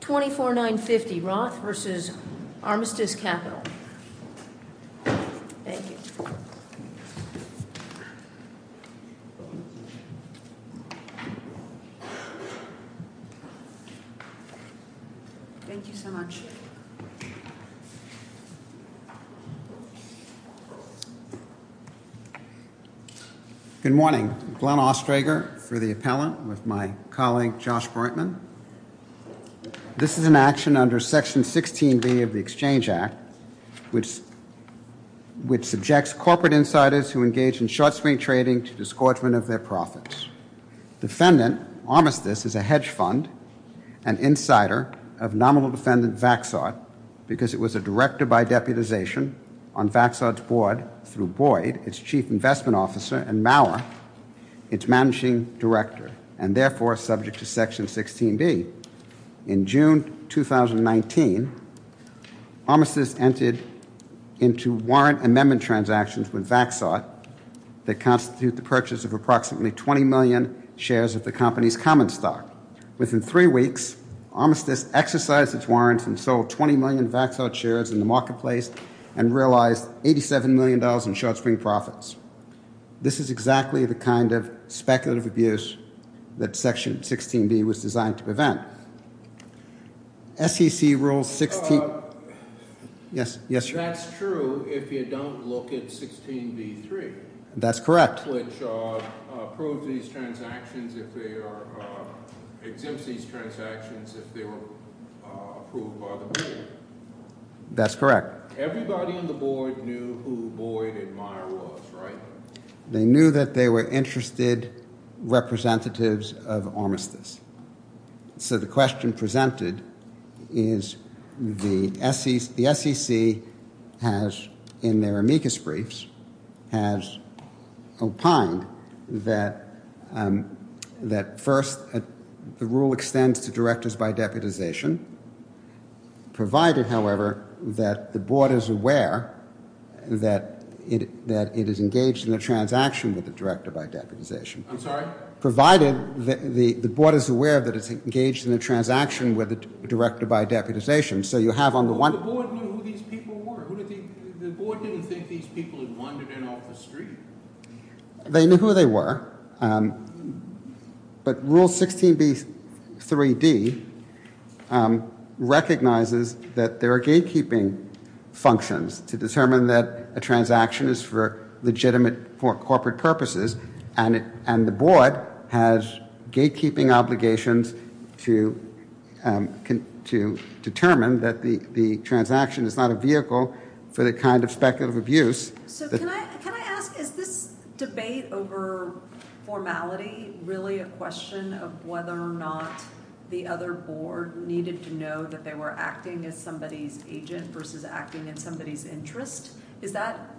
24950 Roth v. Armistice Capital Good morning. I'm Glenn Ostrager for the appellant with my colleague Josh Breitman. This is an action under Section 16B of the Exchange Act which subjects corporate insiders who engage in short swing trading to disgorgement of their profits. Defendant Armistice is a hedge fund and insider of nominal defendant Vaxart because it was a director by deputization on Vaxart's board through Boyd, its chief investment officer, and Maurer, its managing director, and therefore subject to Section 16B. In June 2019, Armistice entered into warrant amendment transactions with Vaxart that constitute the purchase of approximately 20 million shares of the company's common stock. Within three weeks, Armistice exercised its warrants and sold 20 million Vaxart shares in the marketplace and realized $87 million in short swing profits. This is exactly the kind of speculative abuse that Section 16B was designed to prevent. SEC Rule 16... Yes, yes, sir. That's true if you don't look at 16B-3. That's correct. Which approves these transactions if they are...exempts these transactions if they were approved by the board. That's correct. Everybody on the board knew who Boyd and Maurer was, right? They knew that they were interested representatives of Armistice. So the question presented is the SEC has, in their amicus briefs, has opined that first the rule extends to directors by deputization, provided, however, that the board is aware that it is engaged in a transaction with a director by deputization. I'm sorry? Provided the board is aware that it's engaged in a transaction with a director by deputization. So you have on the one... But the board knew who these people were. The board didn't think these people had wandered in off the street. They knew who they were, but Rule 16B-3D recognizes that there are gatekeeping functions to determine that a transaction is legitimate for corporate purposes, and the board has gatekeeping obligations to determine that the transaction is not a vehicle for the kind of speculative abuse... So can I ask, is this debate over formality really a question of whether or not the other board needed to know that they were acting as somebody's agent versus acting in somebody's interest? Is that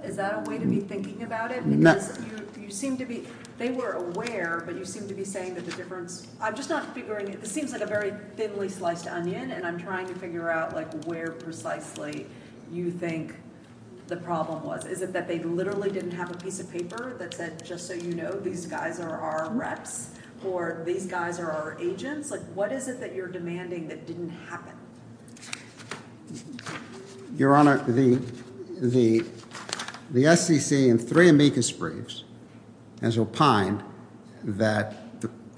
a way to be thinking about it? No. Because you seem to be... They were aware, but you seem to be saying that the difference... I'm just not figuring... This seems like a very thinly sliced onion, and I'm trying to figure out where precisely you think the problem was. Is it that they literally didn't have a piece of paper that said, just so you know, these guys are our reps, or these guys are our agents? What is it that you're demanding that didn't happen? Your Honor, the SEC and three amicus briefs has opined that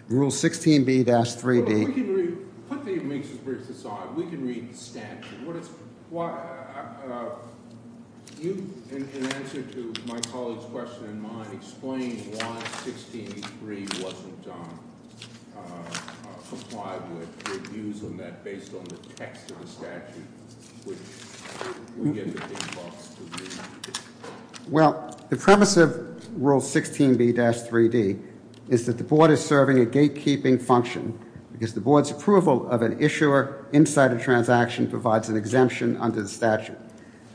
Rule 16B-3D... We can read... Put the amicus briefs aside. We can read the statute. You, in answer to my colleague's question and mine, explained why 16B-3 wasn't complied with. Your views on that, based on the text of the statute, would give the big bucks to me. Well, the premise of Rule 16B-3D is that the board is serving a gatekeeping function. Because the board's approval of an issuer inside a transaction provides an exemption under the statute.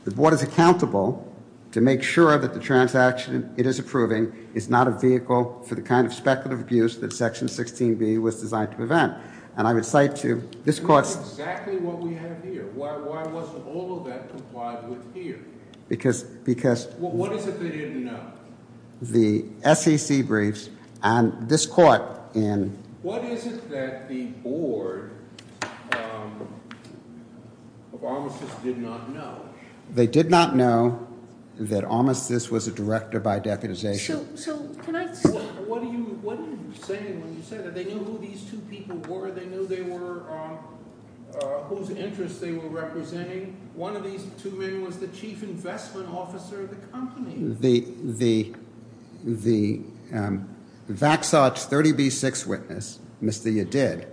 The board is accountable to make sure that the transaction it is approving is not a vehicle for the kind of speculative abuse that Section 16B was designed to prevent. And I would cite to this court's... That's exactly what we have here. Why wasn't all of that complied with here? Because... What is it they didn't know? The SEC briefs and this court in... What is it that the board of Armistice did not know? They did not know that Armistice was a director by deputization. So, can I... What are you saying when you say that? They knew who these two people were. They knew whose interests they were representing. One of these two men was the chief investment officer of the company. The Vaxotch 30B-6 witness, Mr. Yedid,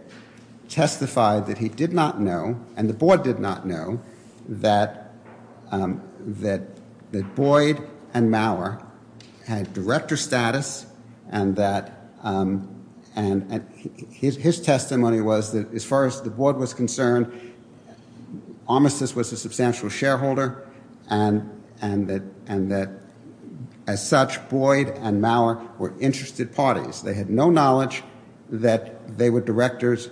testified that he did not know, and the board did not know, that Boyd and Maurer had director status and that... His testimony was that as far as the board was concerned, Armistice was a substantial shareholder and that, as such, Boyd and Maurer were interested parties. They had no knowledge that they were directors...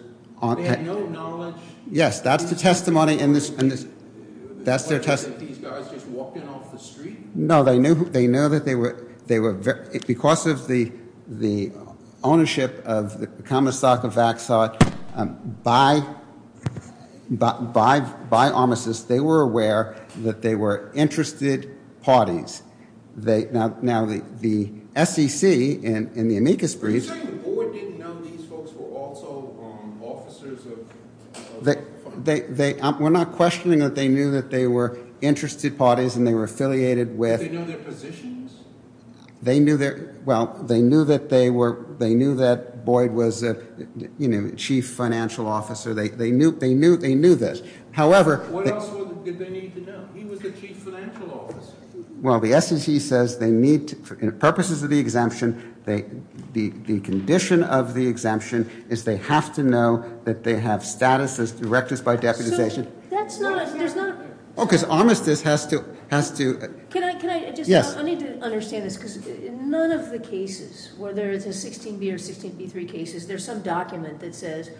They had no knowledge... Yes, that's the testimony in this... ...that these guys just walked in off the street? No, they knew that they were... Because of the ownership of the common stock of Vaxotch by Armistice, they were aware that they were interested parties. Now, the SEC in the amicus brief... Are you saying the board didn't know these folks were also officers of... We're not questioning that they knew that they were interested parties and they were affiliated with... Did they know their positions? They knew their... Well, they knew that they were... They knew that Boyd was a chief financial officer. They knew this. What else did they need to know? He was the chief financial officer. Well, the SEC says they need... For purposes of the exemption, the condition of the exemption is they have to know that they have status as directors by deputization. That's not... Oh, because Armistice has to... Can I just... I need to understand this, because in none of the cases, whether it's a 16B or 16B3 cases, there's some document that says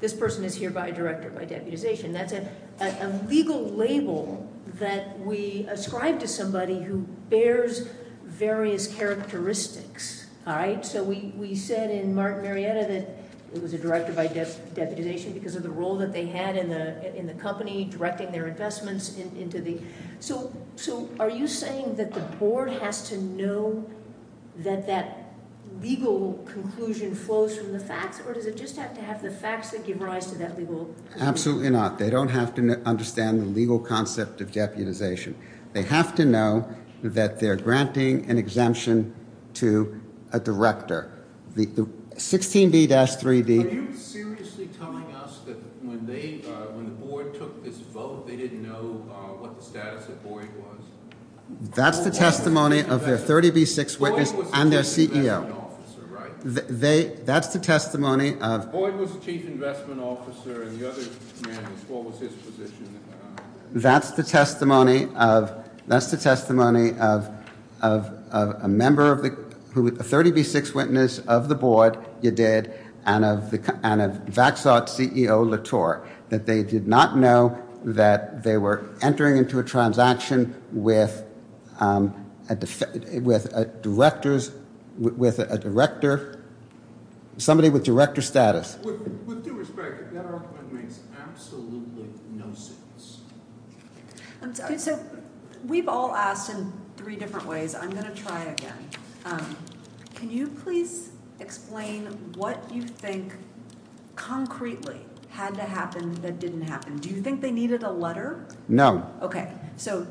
this person is hereby director by deputization. That's a legal label that we ascribe to somebody who bears various characteristics. All right? So we said in Marietta that it was a director by deputization because of the role that they had in the company directing their investments into the... So are you saying that the board has to know that that legal conclusion flows from the facts or does it just have to have the facts that give rise to that legal... Absolutely not. They don't have to understand the legal concept of deputization. They have to know that they're granting an exemption to a director. The 16B-3D... Are you seriously telling us that when the board took this vote, they didn't know what the status of Boyd was? That's the testimony of their 30B6 witness and their CEO. That's the testimony of... Boyd was the chief investment officer and the other man was... What was his position? That's the testimony of... That's the testimony of a member of the... A 30B6 witness of the board, you did, and of VaxAught's CEO, Latour, that they did not know that they were entering into a transaction with a director... Somebody with director status. With due respect, that argument makes absolutely no sense. We've all asked in three different ways. I'm going to try again. Can you please explain what you think, concretely, had to happen that didn't happen? Do you think they needed a letter? No.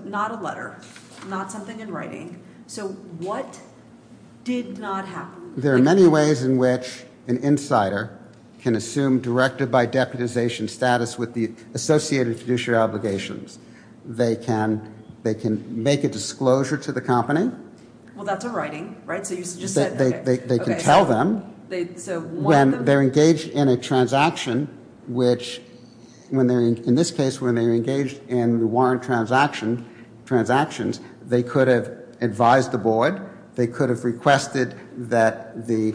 Not a letter. Not something in writing. What did not happen? There are many ways in which an insider can assume director by deputization status with the associated fiduciary obligations. They can make a disclosure to the company. That's a writing. They can tell them when they're engaged in a transaction, which, in this case, when they were engaged in the warrant transactions, they could have advised the board. They could have requested that the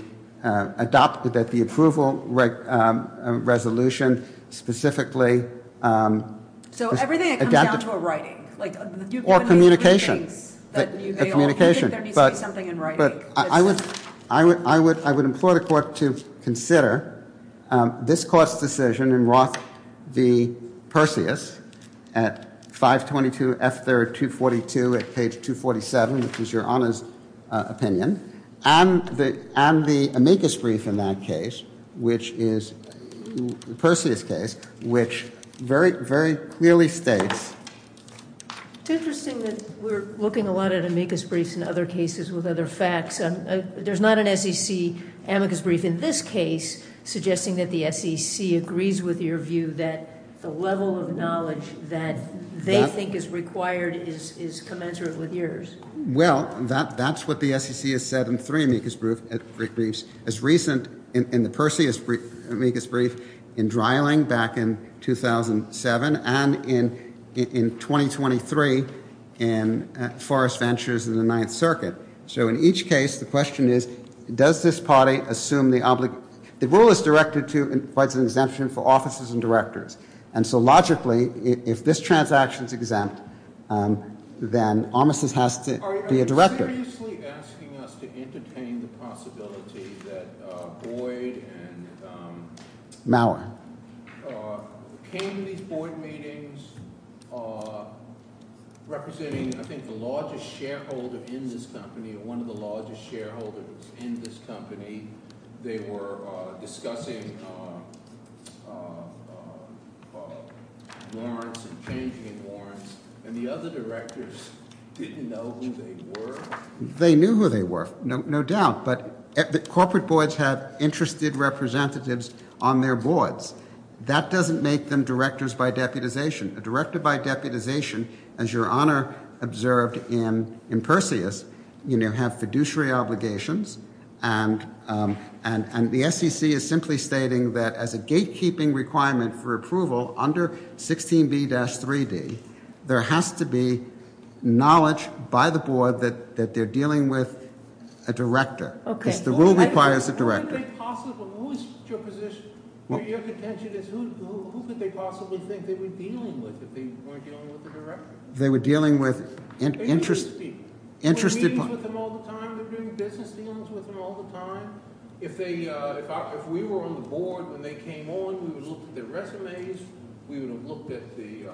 approval resolution specifically... So everything that comes down to a writing. Or communication. You think there needs to be something in writing. I would implore the court to consider this court's decision in Roth v. Perseus at 522 F3rd 242 at page 247, which is your Honor's opinion, and the amicus brief in that case, which is Perseus' case, which very clearly states... It's interesting that we're looking a lot at amicus briefs in other cases with other facts. There's not an SEC amicus brief in this case suggesting that the SEC agrees with your view that the level of knowledge that they think is required is commensurate with yours. Well, that's what the SEC has said in three amicus briefs. As recent in the Perseus amicus brief in Dreiling back in 2007 and in 2023 in Forrest Ventures in the Ninth Circuit. So in each case, the question is, does this party assume the oblig... The rule is directed to and provides an exemption for offices and directors. And so logically, if this transaction's exempt, then Armistice has to be a director. Are you seriously asking us to entertain the possibility that Boyd and... Mauer. ...came to these board meetings representing, I think, the largest shareholder in this company one of the largest shareholders in this company. They were discussing warrants and changing warrants and the other directors didn't know who they were? They knew who they were, no doubt, but corporate boards have interested representatives on their boards. That doesn't make them directors by deputization. A director by deputization, as your Honor observed in Perseus, have fiduciary obligations and the SEC is simply stating that as a gatekeeping requirement for approval under 16B-3D there has to be knowledge by the board that they're dealing with a director. The rule requires a director. Who is your position? Your contention is who could they possibly think they were dealing with if they weren't dealing with a director? They were dealing with interested people. They're doing business dealings with them all the time. If we were on the board when they came on we would have looked at their resumes we would have looked at the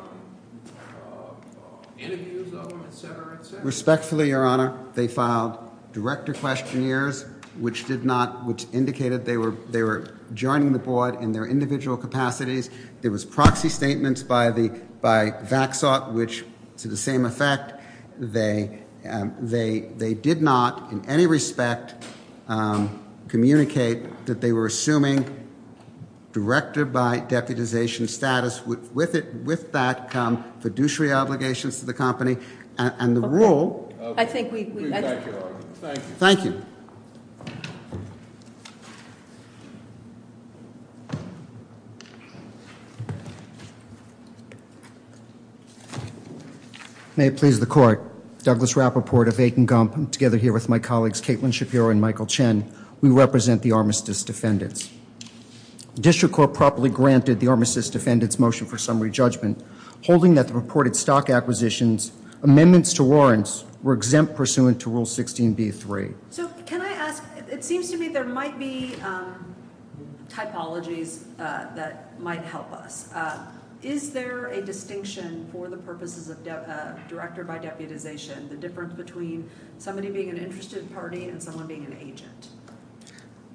interviews of them, etc., etc. Respectfully, your Honor, they filed director questionnaires which indicated they were joining the board in their individual capacities. There was proxy statements by Vaxot which to the same effect they did not in any respect communicate that they were assuming director by deputization status would with that come fiduciary obligations to the company and the rule Thank you. May it please the court. Douglas Rappaport of Aiken Gump together here with my colleagues Caitlin Shapiro and Michael Chen we represent the Armistice Defendants. District Court properly granted the Armistice Defendants motion for summary judgment holding that the reported stock acquisitions, amendments to warrants were exempt pursuant to Rule 16b-3. So can I ask it seems to me there might be typologies that might help us. Is there a distinction for the purposes of director by deputization, the difference between somebody being an interested party and someone being an agent?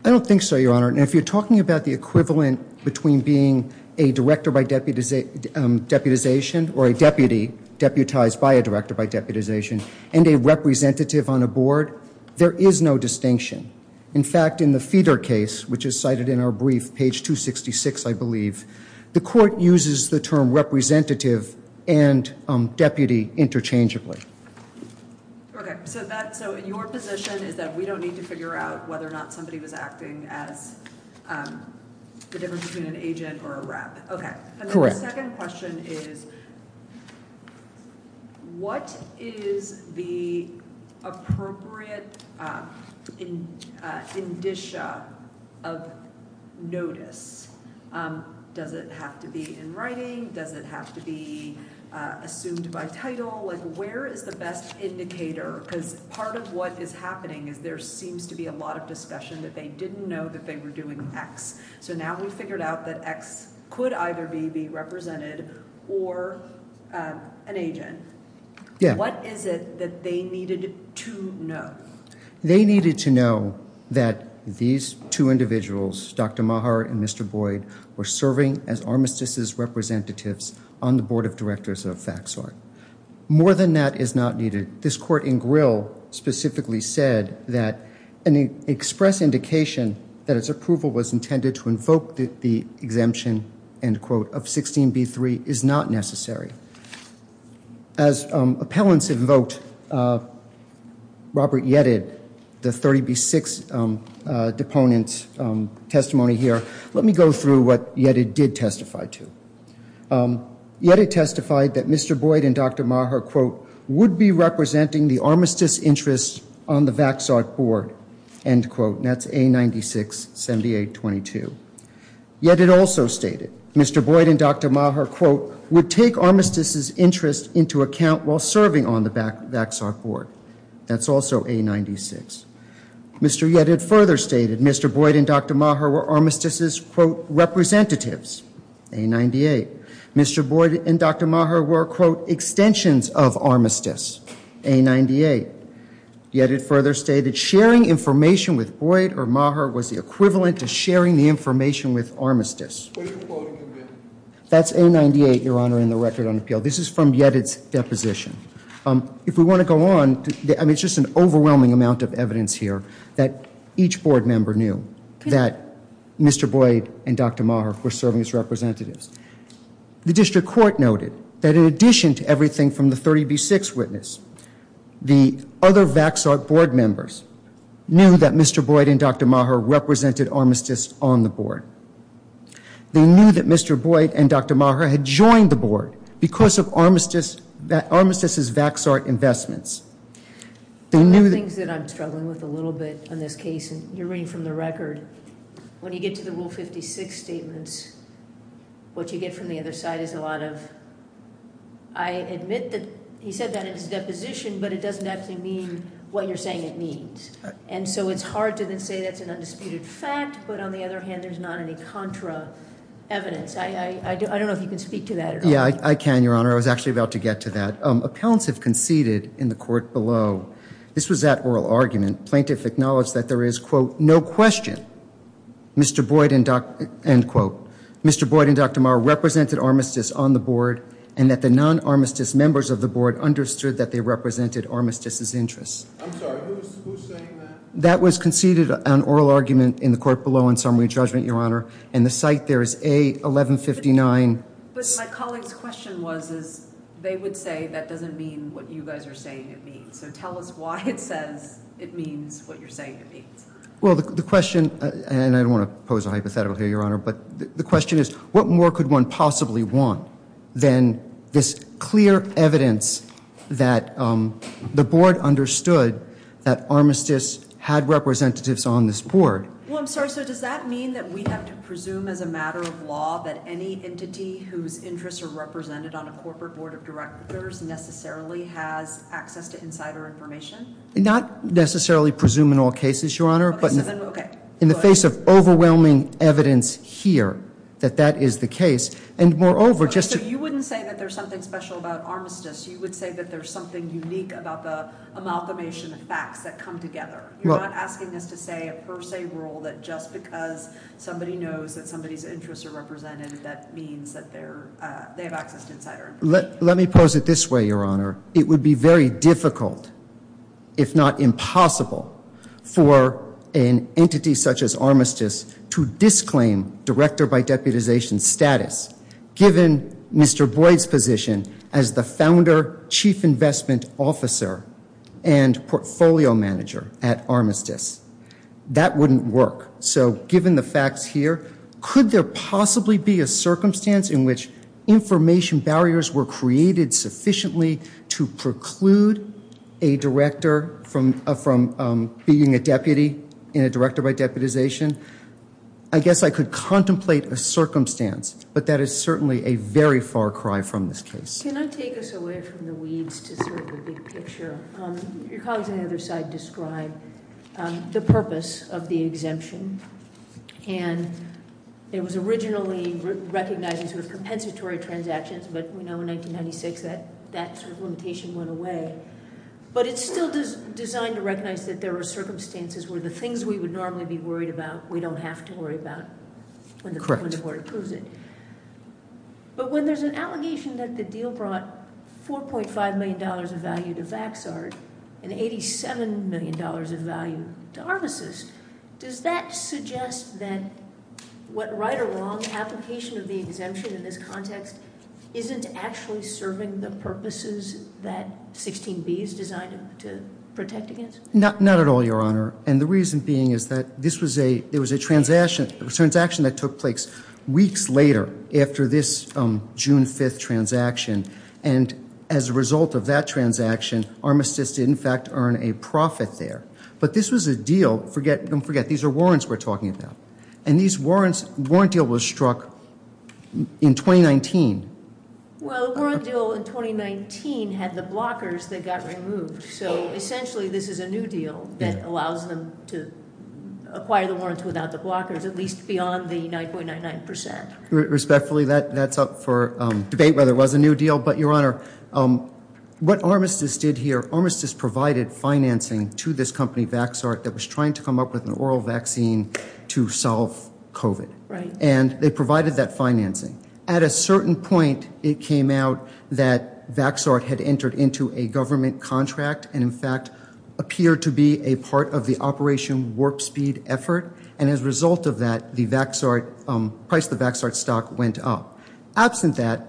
I don't think so, your Honor. If you're talking about the equivalent between being a director by deputization or a deputy deputized by a director by deputization and a representative on a board there is no distinction. In fact, in the Feeder case which is cited in our brief, page 266 the court uses the term representative and deputy interchangeably. So your position is that we don't need to figure out whether or not somebody was acting as the difference between an agent or a rep. The second question is what is the appropriate indicia of notice? Does it have to be in writing? Does it have to be assumed by title? Where is the best indicator? Because part of what is happening is there seems to be a lot of discussion that they didn't know that they were doing X. So now we figured out that X could either be represented or an agent. What is it that they needed to know? They needed to know that these two individuals, Dr. Maher and Mr. Boyd, were serving as Armistice's representatives on the Board of Directors of FACTSORG. More than that is not needed. This court in Grill specifically said that an express indication that its approval was intended to invoke the exemption of 16b3 is not necessary. As appellants invoked Robert Yetted, the 30b6 deponent's testimony here, let me go through what Yetted did testify to. Yetted testified that Mr. Boyd and Dr. Maher would be representing the Armistice's interest on the FACTSORG board. That's A96 7822. Yetted also stated Mr. Boyd and Dr. Maher would take Armistice's interest into account while serving on the FACTSORG board. That's also A96. Mr. Yetted further stated Mr. Boyd and Dr. Maher were Armistice's, quote, representatives. A98. Mr. Boyd and Dr. Maher were, quote, extensions of Armistice. A98. Yetted further stated sharing information with Boyd or Maher was the equivalent to sharing the information with Armistice. That's A98, Your Honor, in the Record on Appeal. This is from Yetted's position. If we want to go on, I mean, it's just an overwhelming amount of evidence here that each board member knew that Mr. Boyd and Dr. Maher were serving as representatives. The District Court noted that in addition to everything from the 30B6 witness, the other FACTSORG board members knew that Mr. Boyd and Dr. Maher represented Armistice on the board. They knew that Mr. Boyd and Dr. Maher had joined the board because of Armistice's FACTSORG investments. I have things that I'm struggling with a little bit in this case. You're reading from the Record. When you get to the Rule 56 statements, what you get from the other side is a lot of, I admit that he said that in his deposition, but it doesn't actually mean what you're saying it means. It's hard to then say that's an undisputed fact, but on the other hand, there's not any contra evidence. I don't know if you can speak to that at all. Yeah, I can, Your Honor. I was actually about to get to that. Appellants have conceded in the court below. This was that oral argument. Plaintiff acknowledged that there is quote, no question Mr. Boyd and Dr. Mr. Boyd and Dr. Maher represented Armistice on the board and that the non-Armistice members of the board understood that they represented Armistice's interests. I'm sorry, who's saying that? That was conceded on oral argument in the court below on summary judgment, Your Honor. And the site there is A-1159. But my colleague's question was, they would say that doesn't mean what you guys are saying it means. So tell us why it says it means what you're saying it means. Well, the question, and I don't want to pose a hypothetical here, Your Honor, but the question is, what more could one possibly want than this clear evidence that the board understood that Armistice had representatives on this board? Well, I'm sorry, so does that mean that we have to presume as a matter of law that any entity whose interests are represented on a corporate board of directors necessarily has access to insider information? Not necessarily presume in all cases, Your Honor, but in the face of overwhelming evidence here that that is the case, and moreover, just to... So you wouldn't say that there's something special about Armistice, you would say that there's something unique about the amalgamation of facts that come together. You're not asking us to say a per se rule that just because somebody knows that somebody's interests are represented that means that they have access to insider information. Let me pose it this way, Your Honor. It would be very difficult, if not impossible, for an entity such as Armistice to disclaim director by deputization status given Mr. Boyd's position as the founder, chief investment officer, and portfolio manager at Armistice. That wouldn't work. So given the facts here, could there possibly be a circumstance in which information barriers were created sufficiently to preclude a director from being a deputy in a director by deputization? I guess I could contemplate a circumstance, but that is certainly a very far cry from this case. Can I take us away from the weeds to the big picture? Your colleagues on the other side describe the purpose of the exemption. It was originally recognized as compensatory transactions, but we know in 1996 that limitation went away. But it's still designed to recognize that there are circumstances where the things we would normally be worried about we don't have to worry about when the court approves it. But when there's an allegation that the deal brought $4.5 million of value to Vaxart and $87 million of value to Armistice, does that suggest that what right or wrong application of the exemption in this context isn't actually serving the purposes that 16B is designed to protect against? Not at all, Your Honor. And the reason being is that this was a transaction that took place weeks later after this June 5th transaction. And as a result of that transaction, Armistice did in fact earn a profit there. But this was a deal, don't forget, these are warrants we're talking about. And these warrants the warrant deal was struck in 2019. Well, the warrant deal in 2019 had the blockers that got removed. So essentially this is a new deal that allows them to acquire the warrants without the blockers at least beyond the 9.99%. Respectfully, that's up for debate whether it was a new deal. But Your Honor, what Armistice did here, Armistice provided financing to this company, Vaxart that was trying to come up with an oral vaccine to solve COVID. And they provided that financing. At a certain point, it came out that Vaxart had entered into a government contract and in fact appeared to be a part of the Operation Warp Speed effort. And as a result of that the Vaxart, price of the Vaxart stock went up. Absent that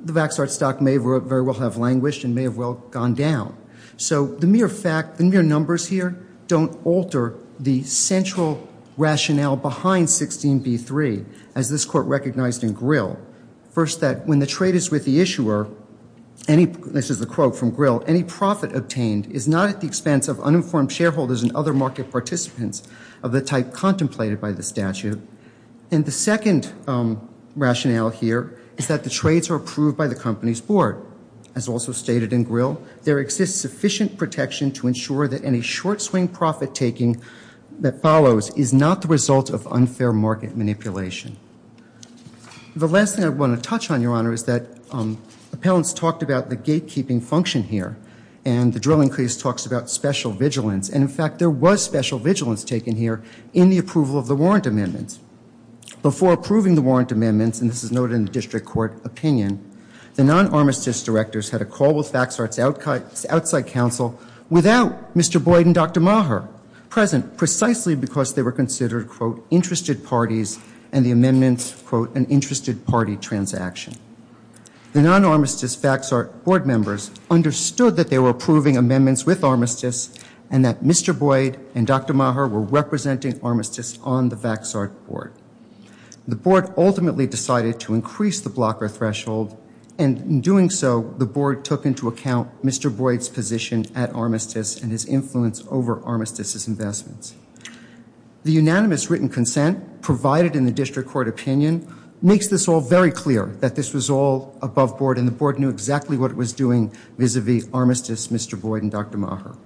the Vaxart stock may very well have languished and may have well gone down. So the mere fact, the mere numbers here don't alter the central rationale behind 16b-3 as this Court recognized in Grill. First that when the trade is with the issuer any, this is a quote from Grill, any profit obtained is not at the expense of uninformed shareholders and other market participants of the type contemplated by the statute. And the second rationale here is that the trades are approved by the company's board. As also stated in Grill, there exists sufficient protection to ensure that any short swing profit taking that follows is not the result of unfair market manipulation. The last thing I want to touch on, Your Honor, is that appellants talked about the gatekeeping function here. And the drilling case talks about special vigilance. And in fact there was special vigilance taken here in the approval of the warrant amendments. Before approving the warrant amendments and this is noted in the District Court opinion the non-armistice directors had a call with Vaxart's outside counsel without Mr. Boyd and Dr. Maher present precisely because they were considered interested parties and the amendments an interested party transaction. The non-armistice Vaxart board members understood that they were approving amendments with armistice and that Mr. Boyd and Dr. Maher were representing armistice on the Vaxart board. The board ultimately decided to increase the blocker threshold and in doing so the board took into account Mr. Boyd's position at armistice and his influence over armistice's investments. The unanimous written consent provided in the District Court opinion makes this all very clear that this was all above board and the board knew exactly what it was doing vis-a-vis armistice Mr. Boyd and Dr. Maher.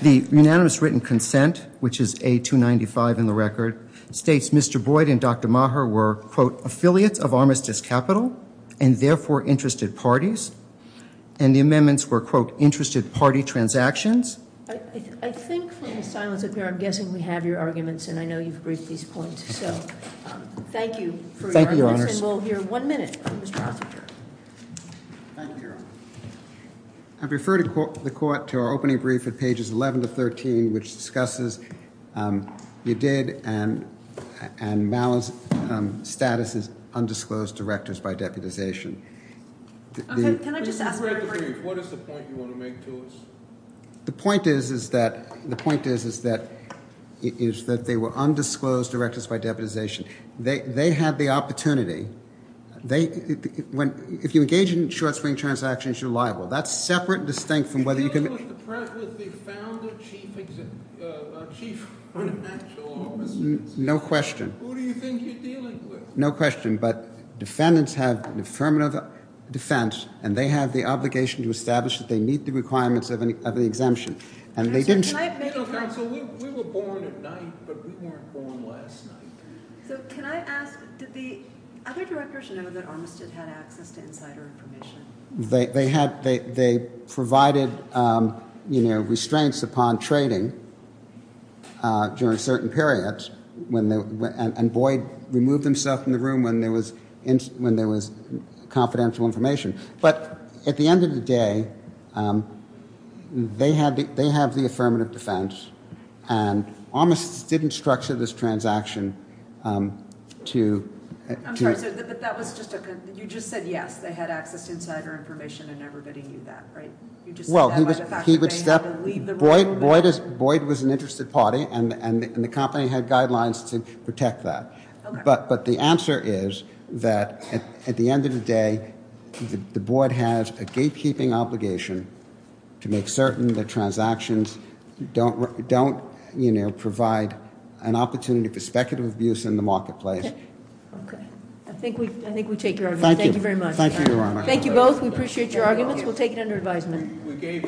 The unanimous written consent which is A-295 in the record states Mr. Boyd and Dr. Maher were quote affiliates of armistice capital and therefore interested parties and the amendments were quote interested party transactions I think from the silence up here I'm guessing we have your arguments and I know you've briefed these points so thank you for your arguments and we'll hear one minute from Mr. Vaxart. Thank you Your Honor. I've referred the court to our opening brief at pages 11 to 13 which discusses you did and Mal's status as undisclosed directors by deputization. Can I just ask what is the point you want to make to us? The point is that is that they were undisclosed directors by deputization they had the opportunity they if you engage in short swing transactions you're liable. That's separate and distinct from whether you can No question. No question but defendants have affirmative defense and they have the obligation to establish that they meet the requirements of the exemption and they didn't We were born at night but we weren't born last night. So can I ask did the other directors know that Armistead had access to insider information? They provided restraints upon trading during certain periods and Boyd removed himself from the room when there was confidential information but at the end of the day they have the affirmative defense and Armistead didn't structure this transaction to You just said yes they had access to insider information and everybody knew that right? Boyd was an interested party and the company had guidelines to protect that but the answer is that at the end of the day the board has a gatekeeping obligation to make certain that transactions don't provide an opportunity for speculative abuse in the marketplace. I think we take your argument. Thank you very much. Thank you both. We appreciate your arguments. We'll take it under advisement.